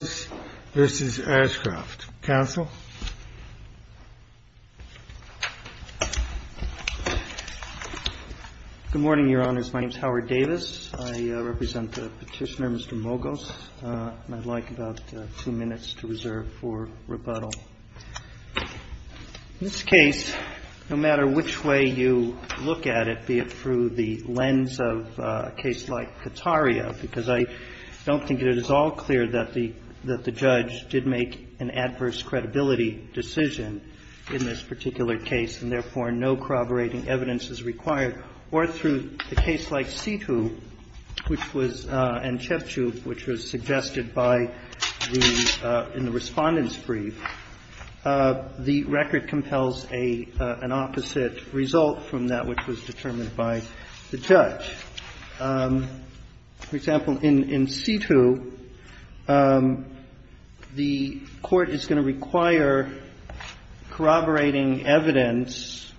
Good morning, Your Honors. My name is Howard Davis. I represent the Petitioner Mr. Mogos, and I'd like about two minutes to reserve for rebuttal. In this case, no matter which way you look at it, be it through the lens of a case like Kataria, because I don't think it is all clear that the judge did make an adverse credibility decision in this particular case, and therefore no corroborating evidence is required, or through a case like Sithu, which was and Chepchup, which was suggested by the, in the Respondent's brief, the record compels an opposite result from that which was determined by the judge. But, for example, in Sithu, the Court is going to require corroborating evidence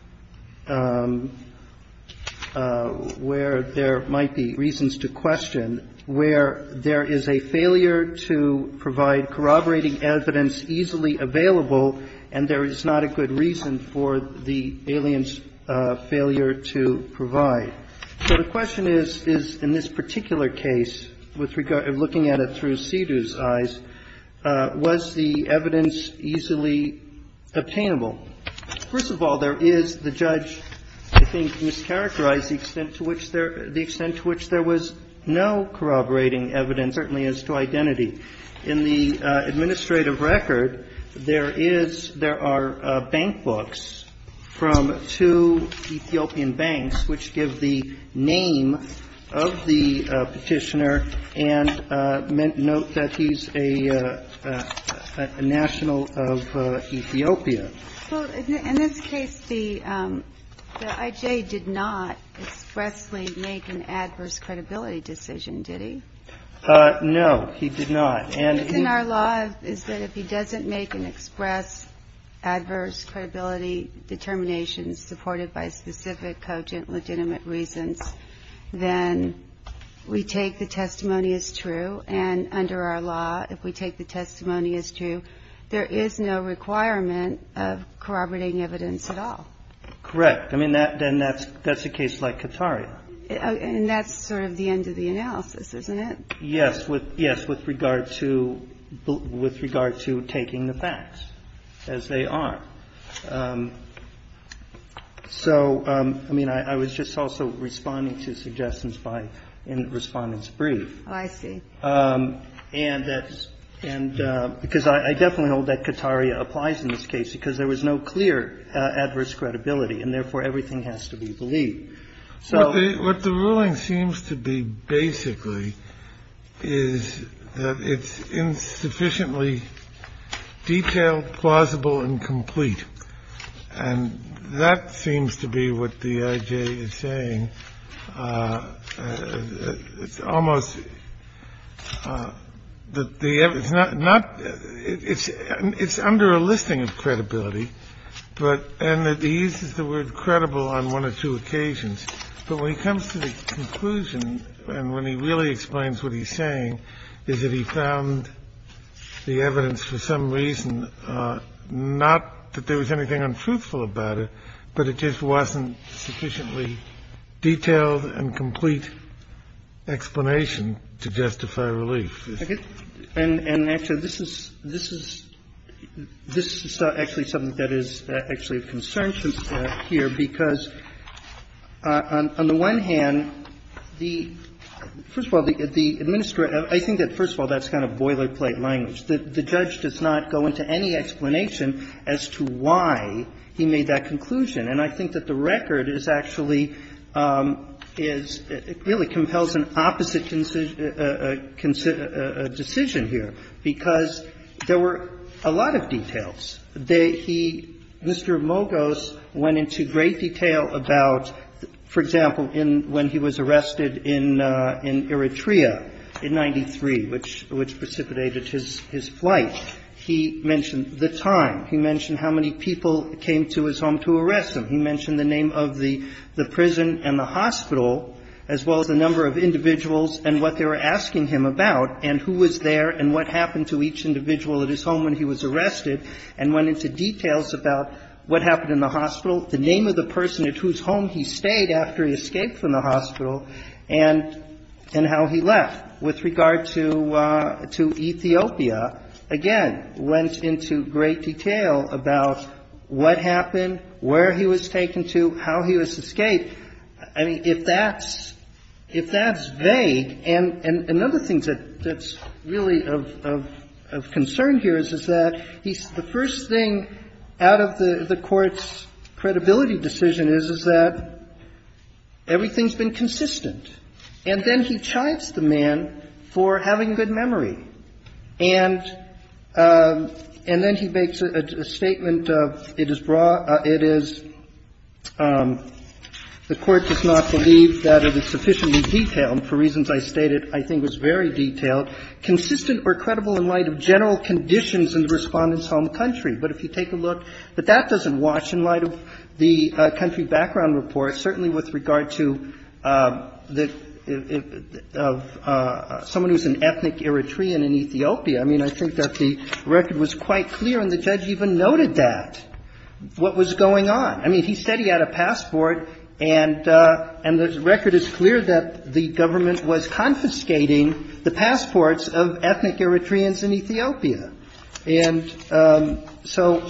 where there might be reasons to question, where there is a failure to provide corroborating evidence easily available, and there is not a good reason for the alien's So the question is, in this particular case, with regard, looking at it through Sithu's eyes, was the evidence easily obtainable? First of all, there is the judge, I think, mischaracterized the extent to which there, the extent to which there was no corroborating evidence, certainly as to identity. In the administrative record, there is, there are bank books from two Ethiopian banks which give the name of the Petitioner and note that he's a national of Ethiopia. Well, in this case, the I.J. did not expressly make an adverse credibility decision, did he? No, he did not. And he doesn't make an express adverse credibility determination supported by specific cogent legitimate reasons, then we take the testimony as true. And under our law, if we take the testimony as true, there is no requirement of corroborating evidence at all. Correct. I mean, then that's a case like Katari. And that's sort of the end of the analysis, isn't it? Yes, with, yes, with regard to, with regard to taking the facts as they are. So, I mean, I was just also responding to suggestions by, in Respondent's brief. Oh, I see. And that's, and because I definitely hold that Katari applies in this case because there was no clear adverse credibility, and therefore everything has to be believed. So what the ruling seems to be basically is that it's insufficiently detailed, plausible and complete. And that seems to be what the I.J. is saying. It's almost that the it's not not it's it's under a listing of credibility. But and that he uses the word credible on one or two occasions. But when he comes to the conclusion and when he really explains what he's saying is that he found the evidence for some reason, not that there was anything untruthful about it, but it just wasn't sufficiently detailed and complete explanation to justify relief. And actually, this is, this is, this is actually something that is actually of concern here, because on the one hand, the, first of all, the Administrator, I think that, first of all, that's kind of boilerplate language. The judge does not go into any explanation as to why he made that conclusion. And I think that the record is actually, is, it really compels an opposite decision here, because there were a lot of details. They, he, Mr. Mogos went into great detail about, for example, in when he was arrested in Eritrea in 93, which precipitated his flight. He mentioned the time. He mentioned how many people came to his home to arrest him. He mentioned the name of the prison and the hospital, as well as the number of individuals and what they were asking him about and who was there and what happened to each individual at his home when he was arrested, and went into details about what happened in the hospital, the name of the person at whose home he stayed after he escaped from the hospital, and, and how he left. With regard to, to Ethiopia, again, went into great detail about what happened, where he was taken to, how he was escaped. I mean, if that's, if that's vague, and another thing that, that's really of, of concern here is, is that he's, the first thing out of the, the Court's credibility decision is, is that everything's been consistent. And then he chides the man for having good memory. And, and then he makes a, a statement of, it is broad, it is, the Court does not believe that it is sufficiently detailed, and for reasons I stated, I think it was very detailed, consistent or credible in light of general conditions in the Respondent's home country. But if you take a look, that that doesn't watch in light of the country background reports, certainly with regard to the, of someone who's an ethnic Eritrean in Ethiopia. I mean, I think that the record was quite clear, and the judge even noted that, what was going on. I mean, he said he had a passport, and, and the record is clear that the government was confiscating the passports of ethnic Eritreans in Ethiopia. And so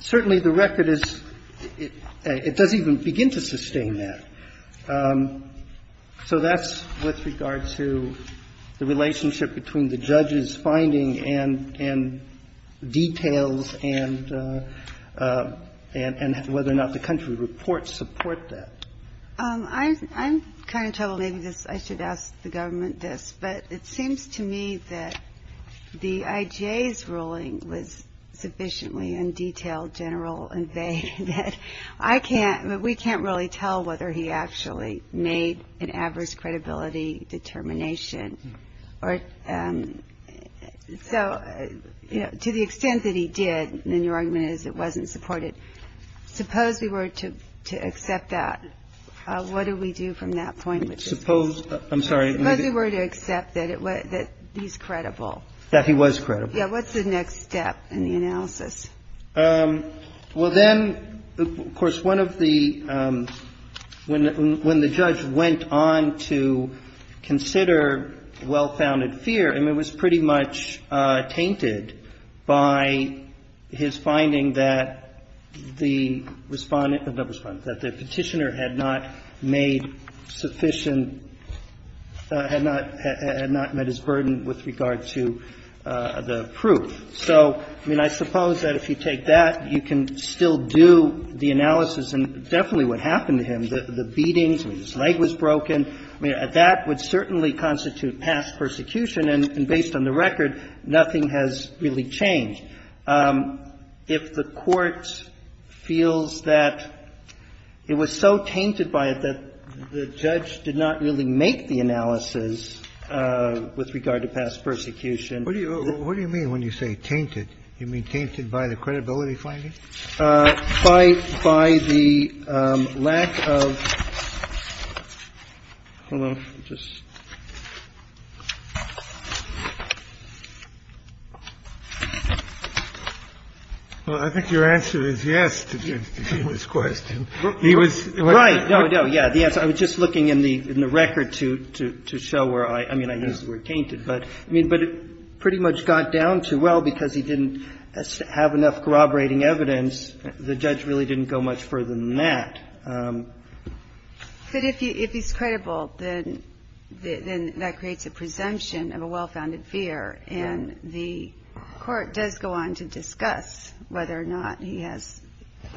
certainly the record is, it doesn't even begin to sustain that. So that's with regard to the relationship between the judge's finding and, and details and, and whether or not the country reports support that. I'm kind of troubled, maybe this, I should ask the government this, but it seems to me that the IGA's ruling was sufficiently in detail, general, and vague that I can't, but we can't really tell whether he actually made an adverse credibility determination or, so, you know, to the extent that he did, then your argument is it wasn't supported. Suppose we were to, to accept that, what do we do from that point of view? Suppose, I'm sorry. Suppose we were to accept that it, that he's credible. That he was credible. Yeah, what's the next step in the analysis? Well, then, of course, one of the, when, when the judge went on to consider well-founded fear, I mean, it was pretty much tainted by his finding that the Respondent, not Respondent, that the Petitioner had not made sufficient, had not, had not met his burden with regard to the proof. So, I mean, I suppose that if you take that, you can still do the analysis, and definitely what happened to him, the, the beatings, I mean, his leg was broken. I mean, that would certainly constitute past persecution, and based on the record, nothing has really changed. If the Court feels that it was so tainted by it that the judge did not really make the analysis with regard to past persecution. What do you, what do you mean when you say tainted? You mean tainted by the credibility finding? By, by the lack of, hold on, just. Well, I think your answer is yes to this question. He was. Right. No, no. Yeah. The answer, I was just looking in the, in the record to, to, to show where I, I mean, I used the word tainted, but, I mean, but it pretty much got down to, well, because he didn't have enough corroborating evidence, the judge really didn't go much further than that. But if he, if he's credible, then, then that creates a presumption of a well-founded fear, and the Court does go on to discuss whether or not he has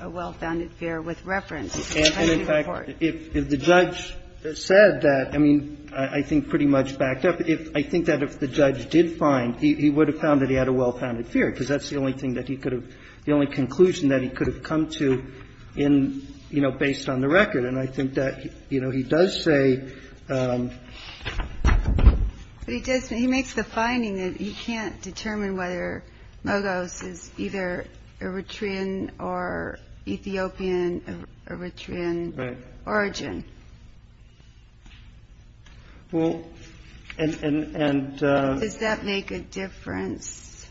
a well-founded fear with reference to the country court. And in fact, if, if the judge said that, I mean, I think pretty much backed up. But if, I think that if the judge did find, he, he would have found that he had a well-founded fear, because that's the only thing that he could have, the only conclusion that he could have come to in, you know, based on the record. And I think that, you know, he does say. But he does, he makes the finding that he can't determine whether Mogos is either Eritrean or Ethiopian, Eritrean origin. Right. Well, and, and, and. Does that make a difference?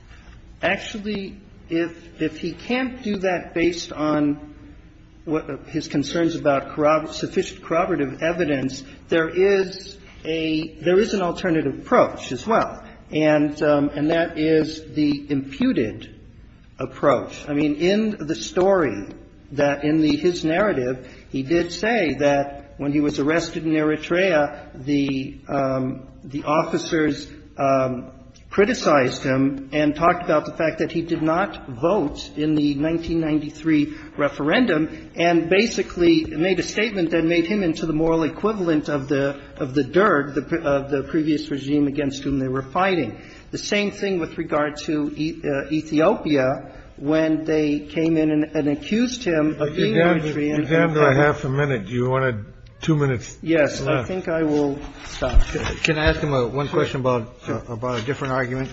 Actually, if, if he can't do that based on what his concerns about sufficient corroborative evidence, there is a, there is an alternative approach as well. And, and that is the imputed approach. I mean, in the story that, in the, his narrative, he did say that when he was arrested in Eritrea, the, the officers criticized him and talked about the fact that he did not vote in the 1993 referendum, and basically made a statement that made him into the moral equivalent of the, of the derg, of the previous regime against whom they were fighting. The same thing with regard to Ethiopia, when they came in and accused him of being Eritrean. You have a half a minute. Do you want to, two minutes left? Yes. I think I will stop. Can I ask him one question about, about a different argument?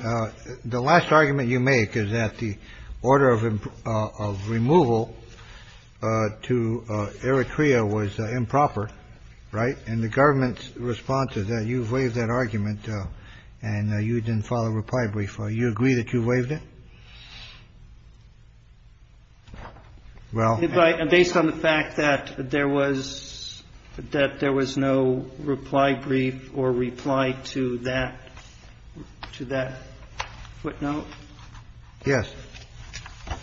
The last argument you make is that the order of, of removal to Eritrea was improper. Right. And the government's response is that you've waived that argument and you didn't file a reply brief. Do you agree that you waived it? Well. Based on the fact that there was, that there was no reply brief or reply to that, to that footnote? Yes.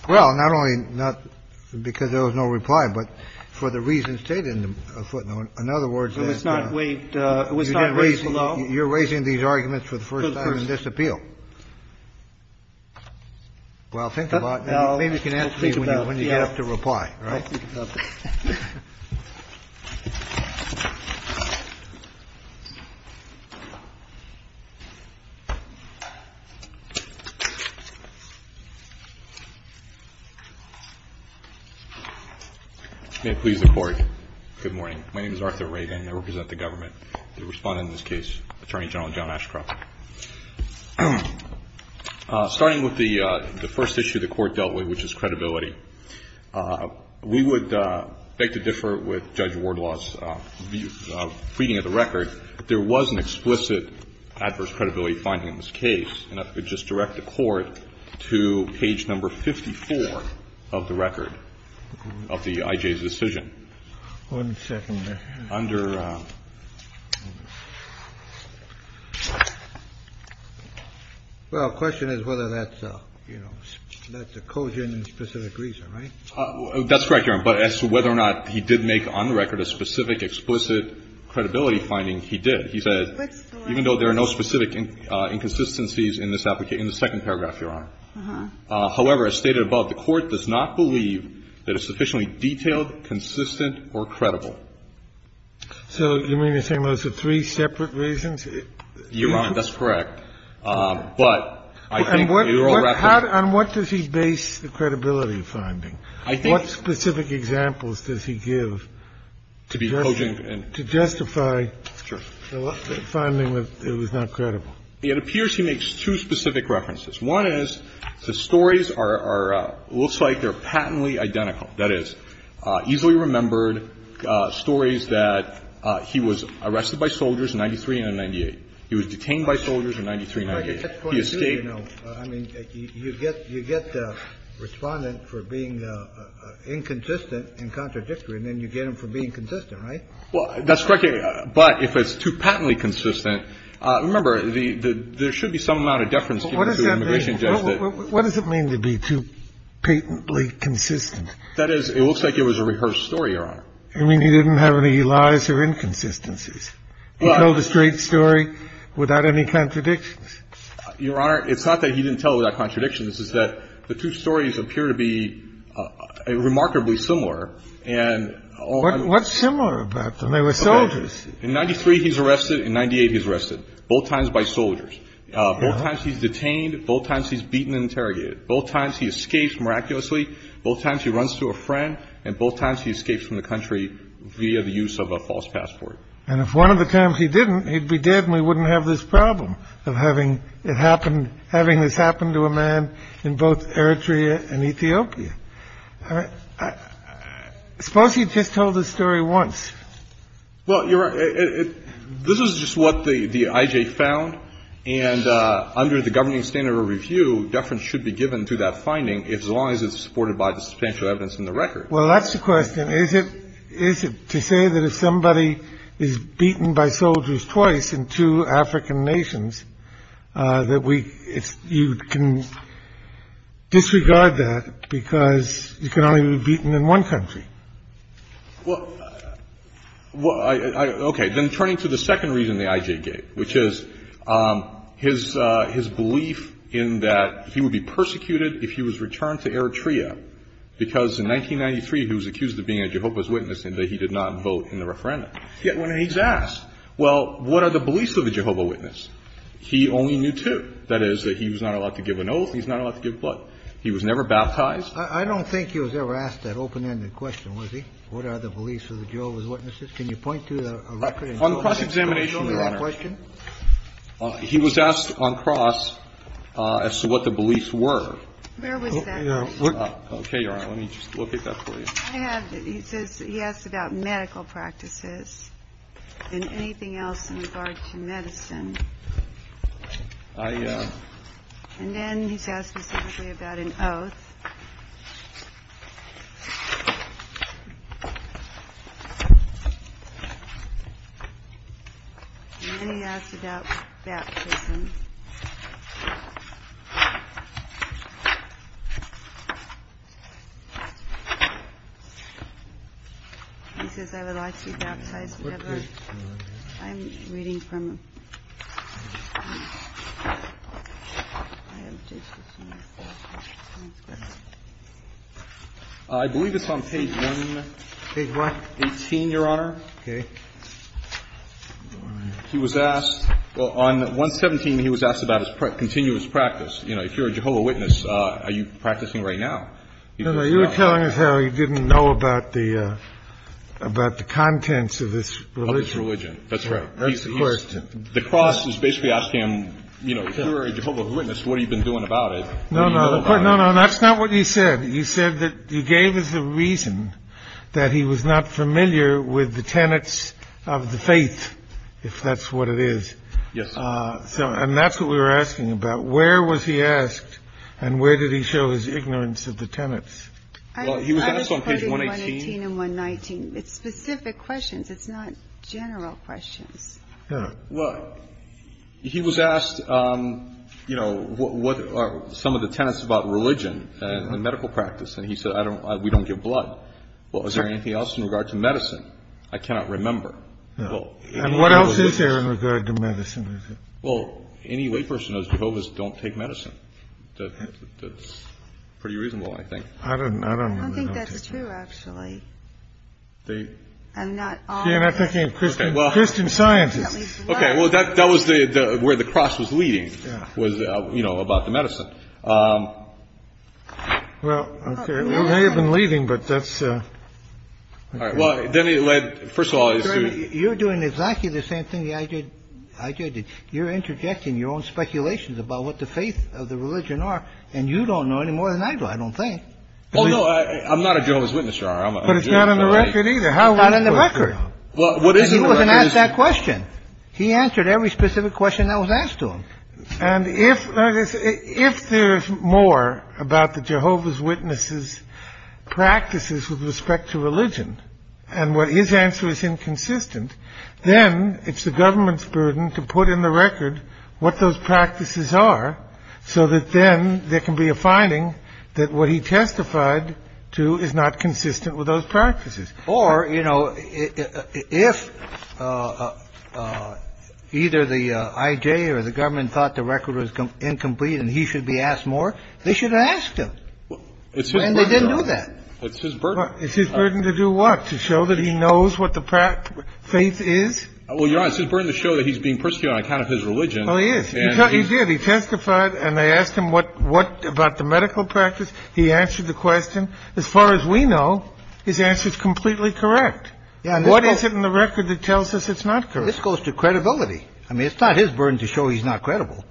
Well, not only not because there was no reply, but for the reasons stated in the footnote. In other words. It was not waived. It was not raised below. You're raising these arguments for the first time in this appeal. Well, think about it. Maybe you can answer me when you get up to reply. All right. May it please the Court. Good morning. My name is Arthur Reagan. I represent the government. I will respond in this case. Attorney General John Ashcroft. Starting with the first issue the Court dealt with, which is credibility. We would beg to differ with Judge Wardlaw's reading of the record. There was an explicit adverse credibility finding in this case. And if we just direct the Court to page number 54 of the record of the I.J.'s decision, we would be able to determine whether or not Judge Wardlaw's reading of the record of the I.J.'s decision was correct. One second. Well, the question is whether that's a, you know, that's a cogent and specific reason, right? That's correct, Your Honor. But as to whether or not he did make on the record a specific explicit credibility finding, he did. He said, even though there are no specific inconsistencies in this application in the second paragraph, Your Honor. However, as stated above, the Court does not believe that it's sufficiently detailed, consistent, or credible. So you mean to say those are three separate reasons? Your Honor, that's correct. But I think the overall record And what does he base the credibility finding? I think What specific examples does he give to be cogent and to justify the finding that it was not credible? It appears he makes two specific references. One is the stories are, looks like they're patently identical. That is, easily remembered stories that he was arrested by soldiers in 93 and in 98. He was detained by soldiers in 93 and 98. He escaped. I mean, you get the Respondent for being inconsistent and contradictory, and then you get him for being consistent, right? Well, that's correct. But if it's too patently consistent, remember, there should be some amount of deference given to an immigration judge. What does that mean? What does it mean to be too patently consistent? That is, it looks like it was a rehearsed story, Your Honor. You mean he didn't have any lies or inconsistencies? He told a straight story without any contradictions? Your Honor, it's not that he didn't tell without contradictions. It's that the two stories appear to be remarkably similar. What's similar about them? They were soldiers. In 93, he's arrested. In 98, he's arrested, both times by soldiers. Both times he's detained. Both times he's beaten and interrogated. Both times he escapes miraculously. Both times he runs to a friend. And both times he escapes from the country via the use of a false passport. And if one of the times he didn't, he'd be dead and we wouldn't have this problem of having it happen, having this happen to a man in both Eritrea and Ethiopia. Suppose he just told the story once. Well, Your Honor, this is just what the I.J. found. And under the governing standard of review, deference should be given to that finding, as long as it's supported by the substantial evidence in the record. Well, that's the question. Is it to say that if somebody is beaten by soldiers twice in two African nations, that you can disregard that because you can only be beaten in one country? Well, okay. Then turning to the second reason the I.J. gave, which is his belief in that he would be persecuted if he was returned to Eritrea, because in 1993 he was accused of being a Jehovah's Witness and that he did not vote in the referendum. Yet when he's asked, well, what are the beliefs of a Jehovah's Witness, he only knew two. That is, that he was not allowed to give an oath, he's not allowed to give blood. He was never baptized. I don't think he was ever asked that open-ended question, was he? What are the beliefs of the Jehovah's Witnesses? Can you point to a record in Jehovah's Witnesses? On cross-examination, Your Honor, he was asked on cross as to what the beliefs were. Where was that question? Okay, Your Honor. Let me just locate that for you. He asks about medical practices and anything else in regard to medicine. And then he's asked specifically about an oath. And then he asks about baptism. He says, I would like to be baptized forever. I'm reading from... I believe it's on page one. Page what? 18, Your Honor. Okay. He was asked, well, on 117, he was asked about his continuous practice. You know, if you're a Jehovah's Witness, are you practicing right now? No, no. You were telling us how he didn't know about the contents of his religion. Of his religion. That's right. That's the question. The cross is basically asking him, you know, if you're a Jehovah's Witness, what have you been doing about it? No, no. That's not what you said. You said that you gave us a reason that he was not familiar with the tenets of the faith, if that's what it is. Yes, sir. And that's what we were asking about. Where was he asked and where did he show his ignorance of the tenets? Well, he was asked on page 118 and 119. It's specific questions. It's not general questions. Well, he was asked, you know, what are some of the tenets about religion and medical practice? And he said, I don't we don't give blood. Well, is there anything else in regard to medicine? I cannot remember. And what else is there in regard to medicine? Well, any layperson as Jehovah's don't take medicine. That's pretty reasonable, I think. I don't know. I don't think that's true, actually. They are not Christian scientists. Okay. Well, that that was where the cross was leading was, you know, about the medicine. Well, they have been leaving, but that's all right. Well, then he led. First of all, you're doing exactly the same thing. I did. I did. You're interjecting your own speculations about what the faith of the religion are. And you don't know any more than I do. I don't think. Oh, no, I'm not a Jehovah's Witness. But it's not on the record either. How about on the record? Well, what is it? Ask that question. He answered every specific question that was asked to him. And if if there's more about the Jehovah's Witnesses practices with respect to religion and what his answer is inconsistent, then it's the government's burden to put in the record what those practices are, so that then there can be a finding that what he testified to is not consistent with those practices. Or, you know, if either the I.J. or the government thought the record was incomplete and he should be asked more, they should have asked him. And they didn't do that. It's his burden. It's his burden to do what? To show that he knows what the faith is? Well, you're right. It's his burden to show that he's being persecuted on account of his religion. Oh, he is. He did. He testified and they asked him what about the medical practice. He answered the question. As far as we know, his answer is completely correct. What is it in the record that tells us it's not correct? This goes to credibility. I mean, it's not his burden to show he's not credible.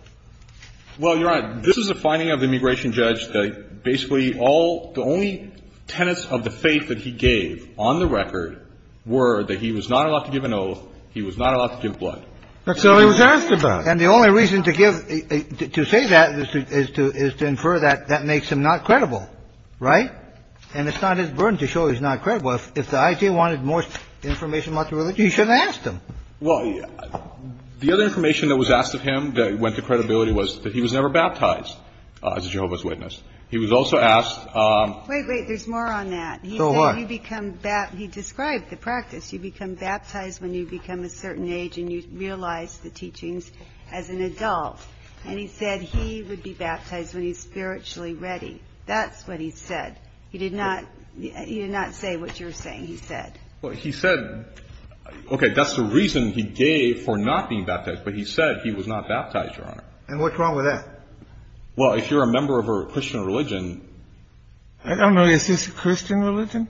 Well, Your Honor, this is a finding of the immigration judge that basically all the only tenets of the faith that he gave on the record were that he was not allowed to give an oath. He was not allowed to give blood. That's all he was asked about. And the only reason to give to say that is to is to infer that that makes him not credible. Right. And it's not his burden to show he's not credible. If the I.T. wanted more information about the religion, he shouldn't have asked him. Well, the other information that was asked of him that went to credibility was that he was never baptized as a Jehovah's Witness. He was also asked. There's more on that. So what? He described the practice. You become baptized when you become a certain age and you realize the teachings as an adult. And he said he would be baptized when he's spiritually ready. That's what he said. He did not. He did not say what you're saying. He said he said, OK, that's the reason he gave for not being baptized. But he said he was not baptized. And what's wrong with that? Well, if you're a member of a Christian religion. I don't know. Is this a Christian religion?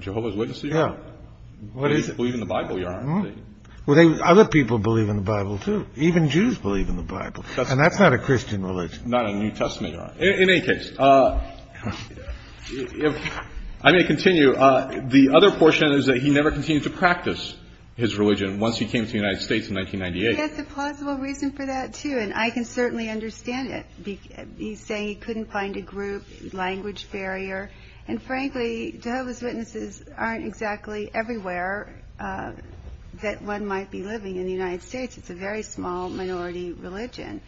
Jehovah's Witness? Yeah. What is it? Believe in the Bible. Well, other people believe in the Bible, too. Even Jews believe in the Bible. And that's not a Christian religion. Not a New Testament. In any case, if I may continue. The other portion is that he never continued to practice his religion once he came to the United States in 1998. That's a plausible reason for that, too. And I can certainly understand it. He's saying he couldn't find a group, language barrier. And, frankly, Jehovah's Witnesses aren't exactly everywhere that one might be living in the United States. It's a very small minority religion.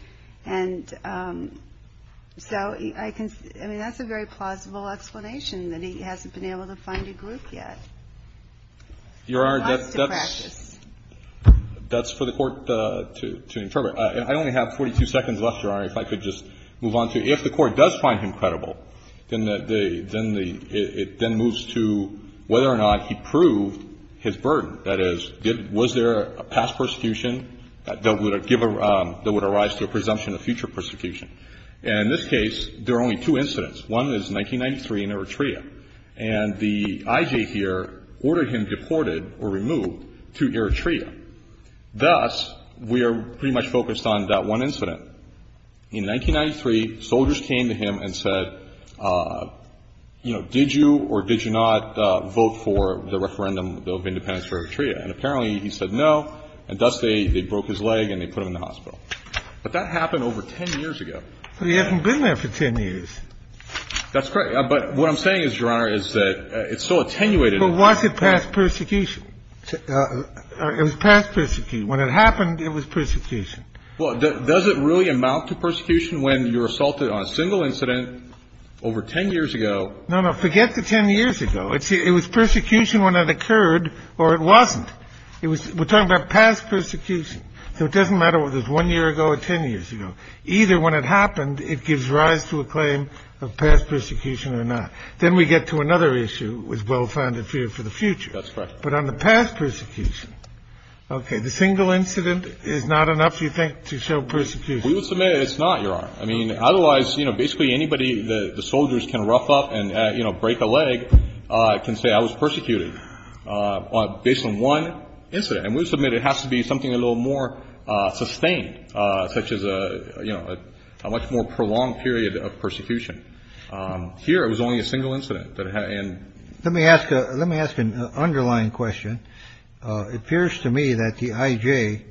And so I mean, that's a very plausible explanation that he hasn't been able to find a group yet. Your Honor, that's for the Court to interpret. I only have 42 seconds left, Your Honor, if I could just move on to it. If the Court does find him credible, then it then moves to whether or not he proved his burden. That is, was there a past persecution that would arise to a presumption of future persecution? And in this case, there are only two incidents. One is 1993 in Eritrea. And the IJ here ordered him deported or removed to Eritrea. Thus, we are pretty much focused on that one incident. In 1993, soldiers came to him and said, you know, did you or did you not vote for the referendum bill of independence for Eritrea? And apparently he said no, and thus they broke his leg and they put him in the hospital. But that happened over 10 years ago. But he hasn't been there for 10 years. That's correct. But what I'm saying is, Your Honor, is that it's so attenuated. But why is it past persecution? It was past persecution. When it happened, it was persecution. Well, does it really amount to persecution when you're assaulted on a single incident over 10 years ago? No, no. Forget the 10 years ago. It was persecution when it occurred or it wasn't. It was we're talking about past persecution. So it doesn't matter whether it was 1 year ago or 10 years ago. Either when it happened, it gives rise to a claim of past persecution or not. Then we get to another issue with well-founded fear for the future. But on the past persecution, okay, the single incident is not enough, you think, to show persecution? We would submit it's not, Your Honor. I mean, otherwise, you know, basically anybody that the soldiers can rough up and, you know, break a leg can say I was persecuted based on one incident. And we would submit it has to be something a little more sustained, such as a, you know, a much more prolonged period of persecution. Here it was only a single incident. Let me ask. Let me ask an underlying question. It appears to me that the IJ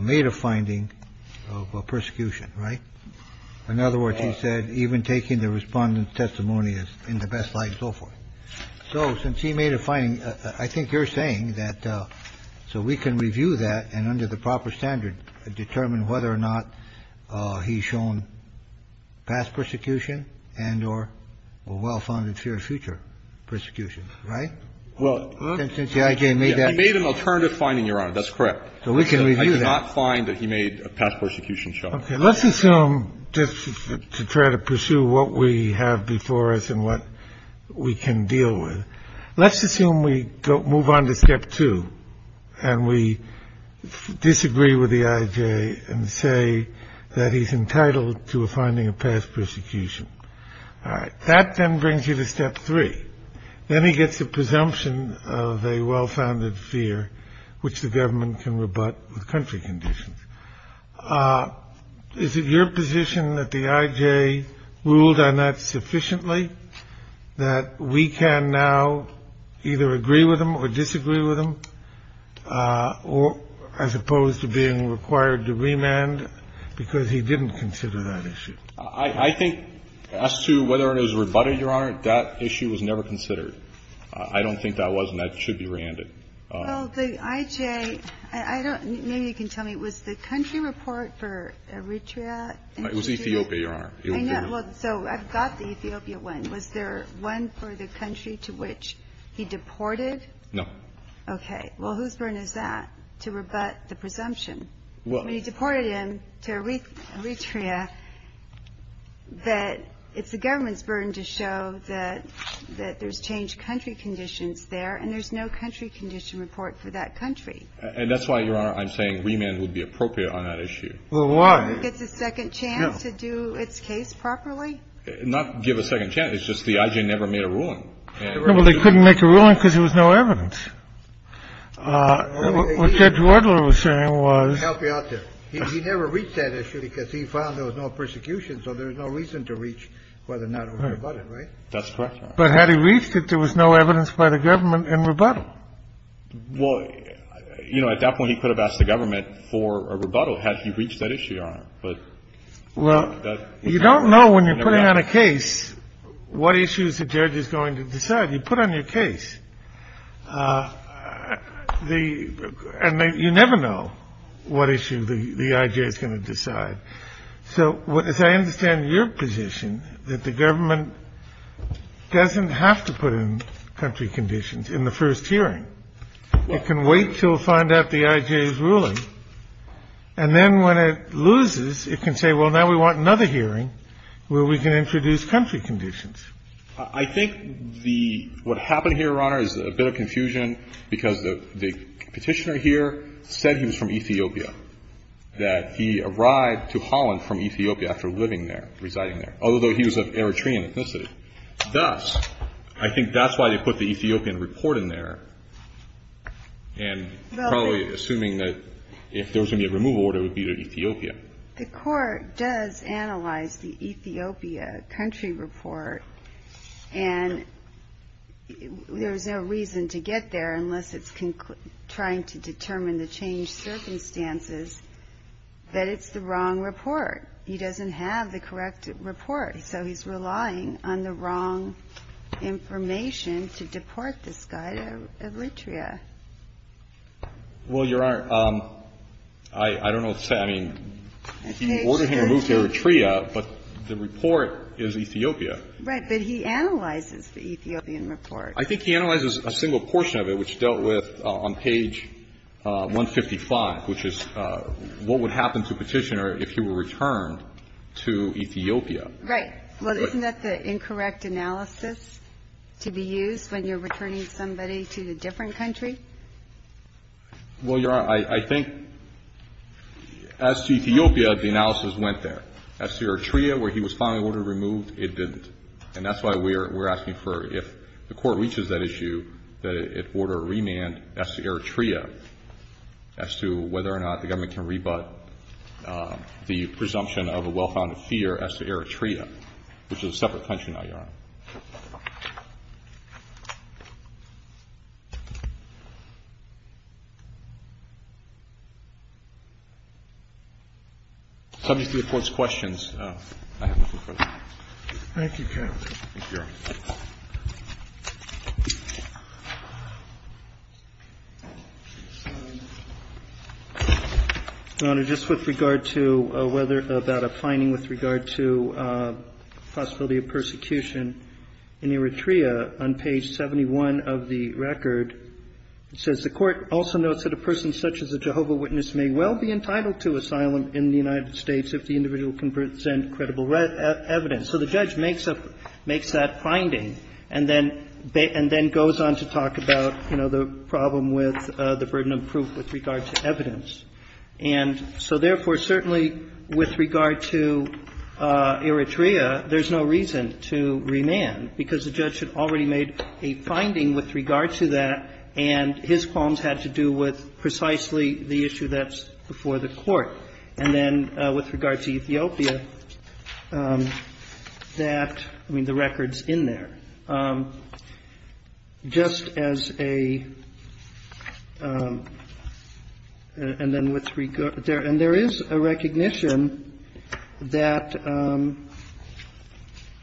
made a finding of persecution. Right. In other words, he said, even taking the respondent's testimony is in the best light and so forth. So since he made a finding, I think you're saying that so we can review that and under the proper standard, determine whether or not he's shown past persecution and or a well-founded fear of future persecution, right? Well, since the IJ made that. He made an alternative finding, Your Honor. That's correct. So we can review that. I did not find that he made a past persecution showing. Okay. Let's assume, just to try to pursue what we have before us and what we can deal with, let's assume we move on to step two and we disagree with the IJ and say that he's entitled to a finding of past persecution. All right. That then brings you to step three. Then he gets a presumption of a well-founded fear, which the government can rebut with country conditions. Is it your position that the IJ ruled on that sufficiently, that we can now either agree with him or disagree with him, as opposed to being required to remand, because he didn't consider that issue? I think as to whether it was rebutted, Your Honor, that issue was never considered. I don't think that was, and that should be reandered. Well, the IJ, I don't know. Maybe you can tell me. Was the country report for Eritrea? It was Ethiopia, Your Honor. I know. Well, so I've got the Ethiopia one. Was there one for the country to which he deported? No. Okay. Well, whose burden is that to rebut the presumption? When he deported him to Eritrea, that it's the government's burden to show that there's changed country conditions there, and there's no country condition report for that country. And that's why, Your Honor, I'm saying remand would be appropriate on that issue. Well, why? I don't think it's a second chance to do its case properly. Not give a second chance. It's just the IJ never made a ruling. Well, they couldn't make a ruling because there was no evidence. What Judge Wadler was saying was he never reached that issue because he found there was no persecution, so there was no reason to reach whether or not it was rebutted, right? That's correct, Your Honor. But had he reached it, there was no evidence by the government in rebuttal. Well, you know, at that point, he could have asked the government for a rebuttal had he reached that issue, Your Honor. Well, you don't know when you're putting on a case what issues the judge is going to decide. You put on your case. And you never know what issue the IJ is going to decide. So as I understand your position, that the government doesn't have to put in country conditions in the first hearing. It can wait until it finds out the IJ's ruling, and then when it loses, it can say, well, now we want another hearing where we can introduce country conditions. I think the — what happened here, Your Honor, is a bit of confusion because the Petitioner here said he was from Ethiopia, that he arrived to Holland from Ethiopia after living there, residing there, although he was of Eritrean ethnicity. Thus, I think that's why they put the Ethiopian report in there, and probably assuming that if there was going to be a removal order, it would be to Ethiopia. The Court does analyze the Ethiopia country report, and there's no reason to get there unless it's trying to determine the change circumstance that it's the wrong report. He doesn't have the correct report. So he's relying on the wrong information to deport this guy to Eritrea. Well, Your Honor, I don't know what to say. I mean, you ordered him to move to Eritrea, but the report is Ethiopia. Right. But he analyzes the Ethiopian report. I think he analyzes a single portion of it, which dealt with on page 155, which is what would happen to Petitioner if he were returned to Ethiopia. Right. Well, isn't that the incorrect analysis to be used when you're returning somebody to a different country? Well, Your Honor, I think as to Ethiopia, the analysis went there. As to Eritrea, where he was finally ordered to be removed, it didn't. And that's why we're asking for, if the Court reaches that issue, that it order a remand as to Eritrea, as to whether or not the government can rebut the presumption of a well-founded fear as to Eritrea, which is a separate country now, Your Honor. Subject to the Court's questions, I have no further questions. Thank you, counsel. Thank you, Your Honor. Your Honor, just with regard to whether about a finding with regard to possibility of persecution in Eritrea, on page 71 of the record, it says, And so therefore, certainly, with regard to Eritrea, there's no reason to remand, because the judge had already made a finding with regard to that, and his qualms had to do with precisely the issue that's before the Court. And then with regard to Ethiopia, that, I mean, the record's in there, just as a – and then with regard – and there is a recognition that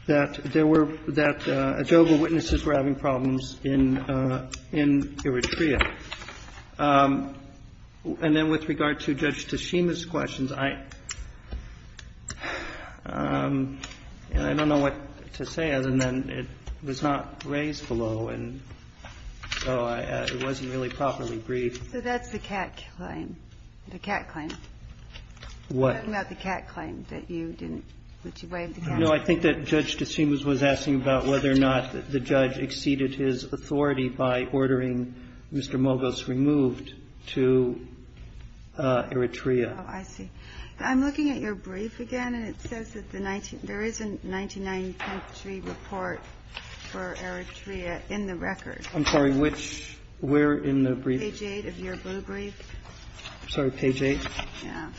there were – that Adjoga witnesses were having problems in Eritrea. And then with regard to Judge Teshima's questions, I – I don't know what to say other than it was not raised below, and so I – it wasn't really properly briefed. So that's the cat claim. The cat claim. What? You're talking about the cat claim, that you didn't – that you waived the cat claim. No. I think that Judge Teshima was asking about whether or not the judge exceeded his authority by ordering Mr. Mogos removed to Eritrea. Oh, I see. I'm looking at your brief again, and it says that the 19 – there is a 1993 report for Eritrea in the record. I'm sorry. Which – where in the brief? Page 8 of your blue brief. I'm sorry. Page 8? Yeah.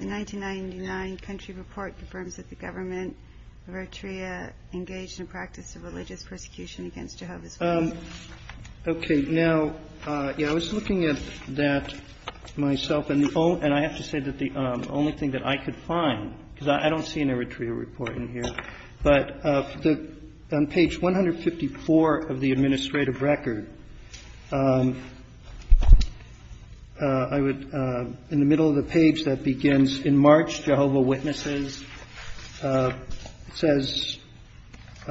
The 1999 country report confirms that the government of Eritrea engaged in practice of religious persecution against Jehovah's Witnesses. Okay. Now, yeah, I was looking at that myself, and the only – and I have to say that the only thing that I could find, because I don't see an Eritrea report in here, but on page 154 of the administrative record, I would – in the middle of the page that begins, in March, Jehovah's Witnesses says –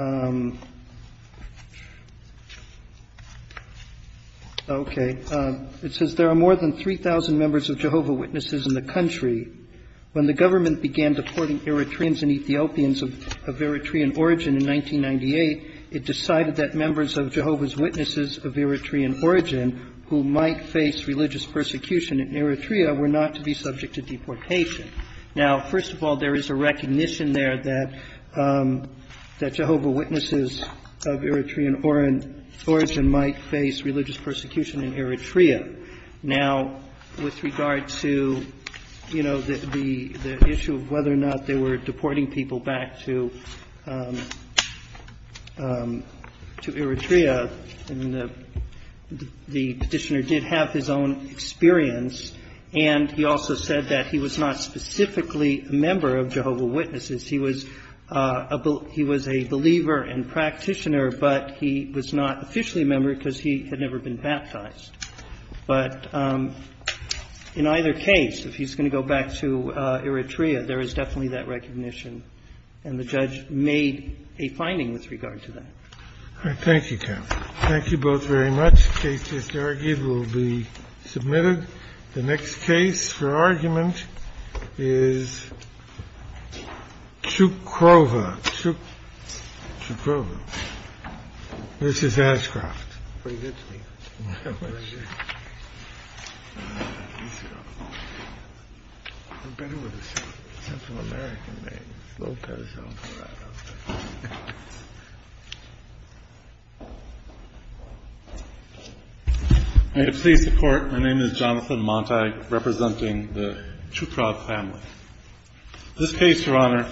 okay. It says there are more than 3,000 members of Jehovah's Witnesses in the country. When the government began deporting Eritreans and Ethiopians of Eritrean origin in 1998, it decided that members of Jehovah's Witnesses of Eritrean origin who might face religious persecution in Eritrea were not to be subject to deportation. Now, first of all, there is a recognition there that Jehovah's Witnesses of Eritrean origin might face religious persecution in Eritrea. Now, with regard to, you know, the issue of whether or not they were deporting people back to Eritrea, the Petitioner did have his own experience, and he also said that he was not specifically a member of Jehovah's Witnesses. He was a believer and practitioner, but he was not officially a member because he had never been baptized. But in either case, if he's going to go back to Eritrea, there is definitely that recognition, and the judge made a finding with regard to that. Thank you, Ken. Thank you both very much. The case just argued will be submitted. The next case for argument is Cukrova. Cukrova. Mrs. Ashcroft. Pretty good to me. Very good. I'm better with a Central American name. Lopez Alvarado. May it please the Court, my name is Jonathan Monti, representing the Cukrova family. This case, Your Honor,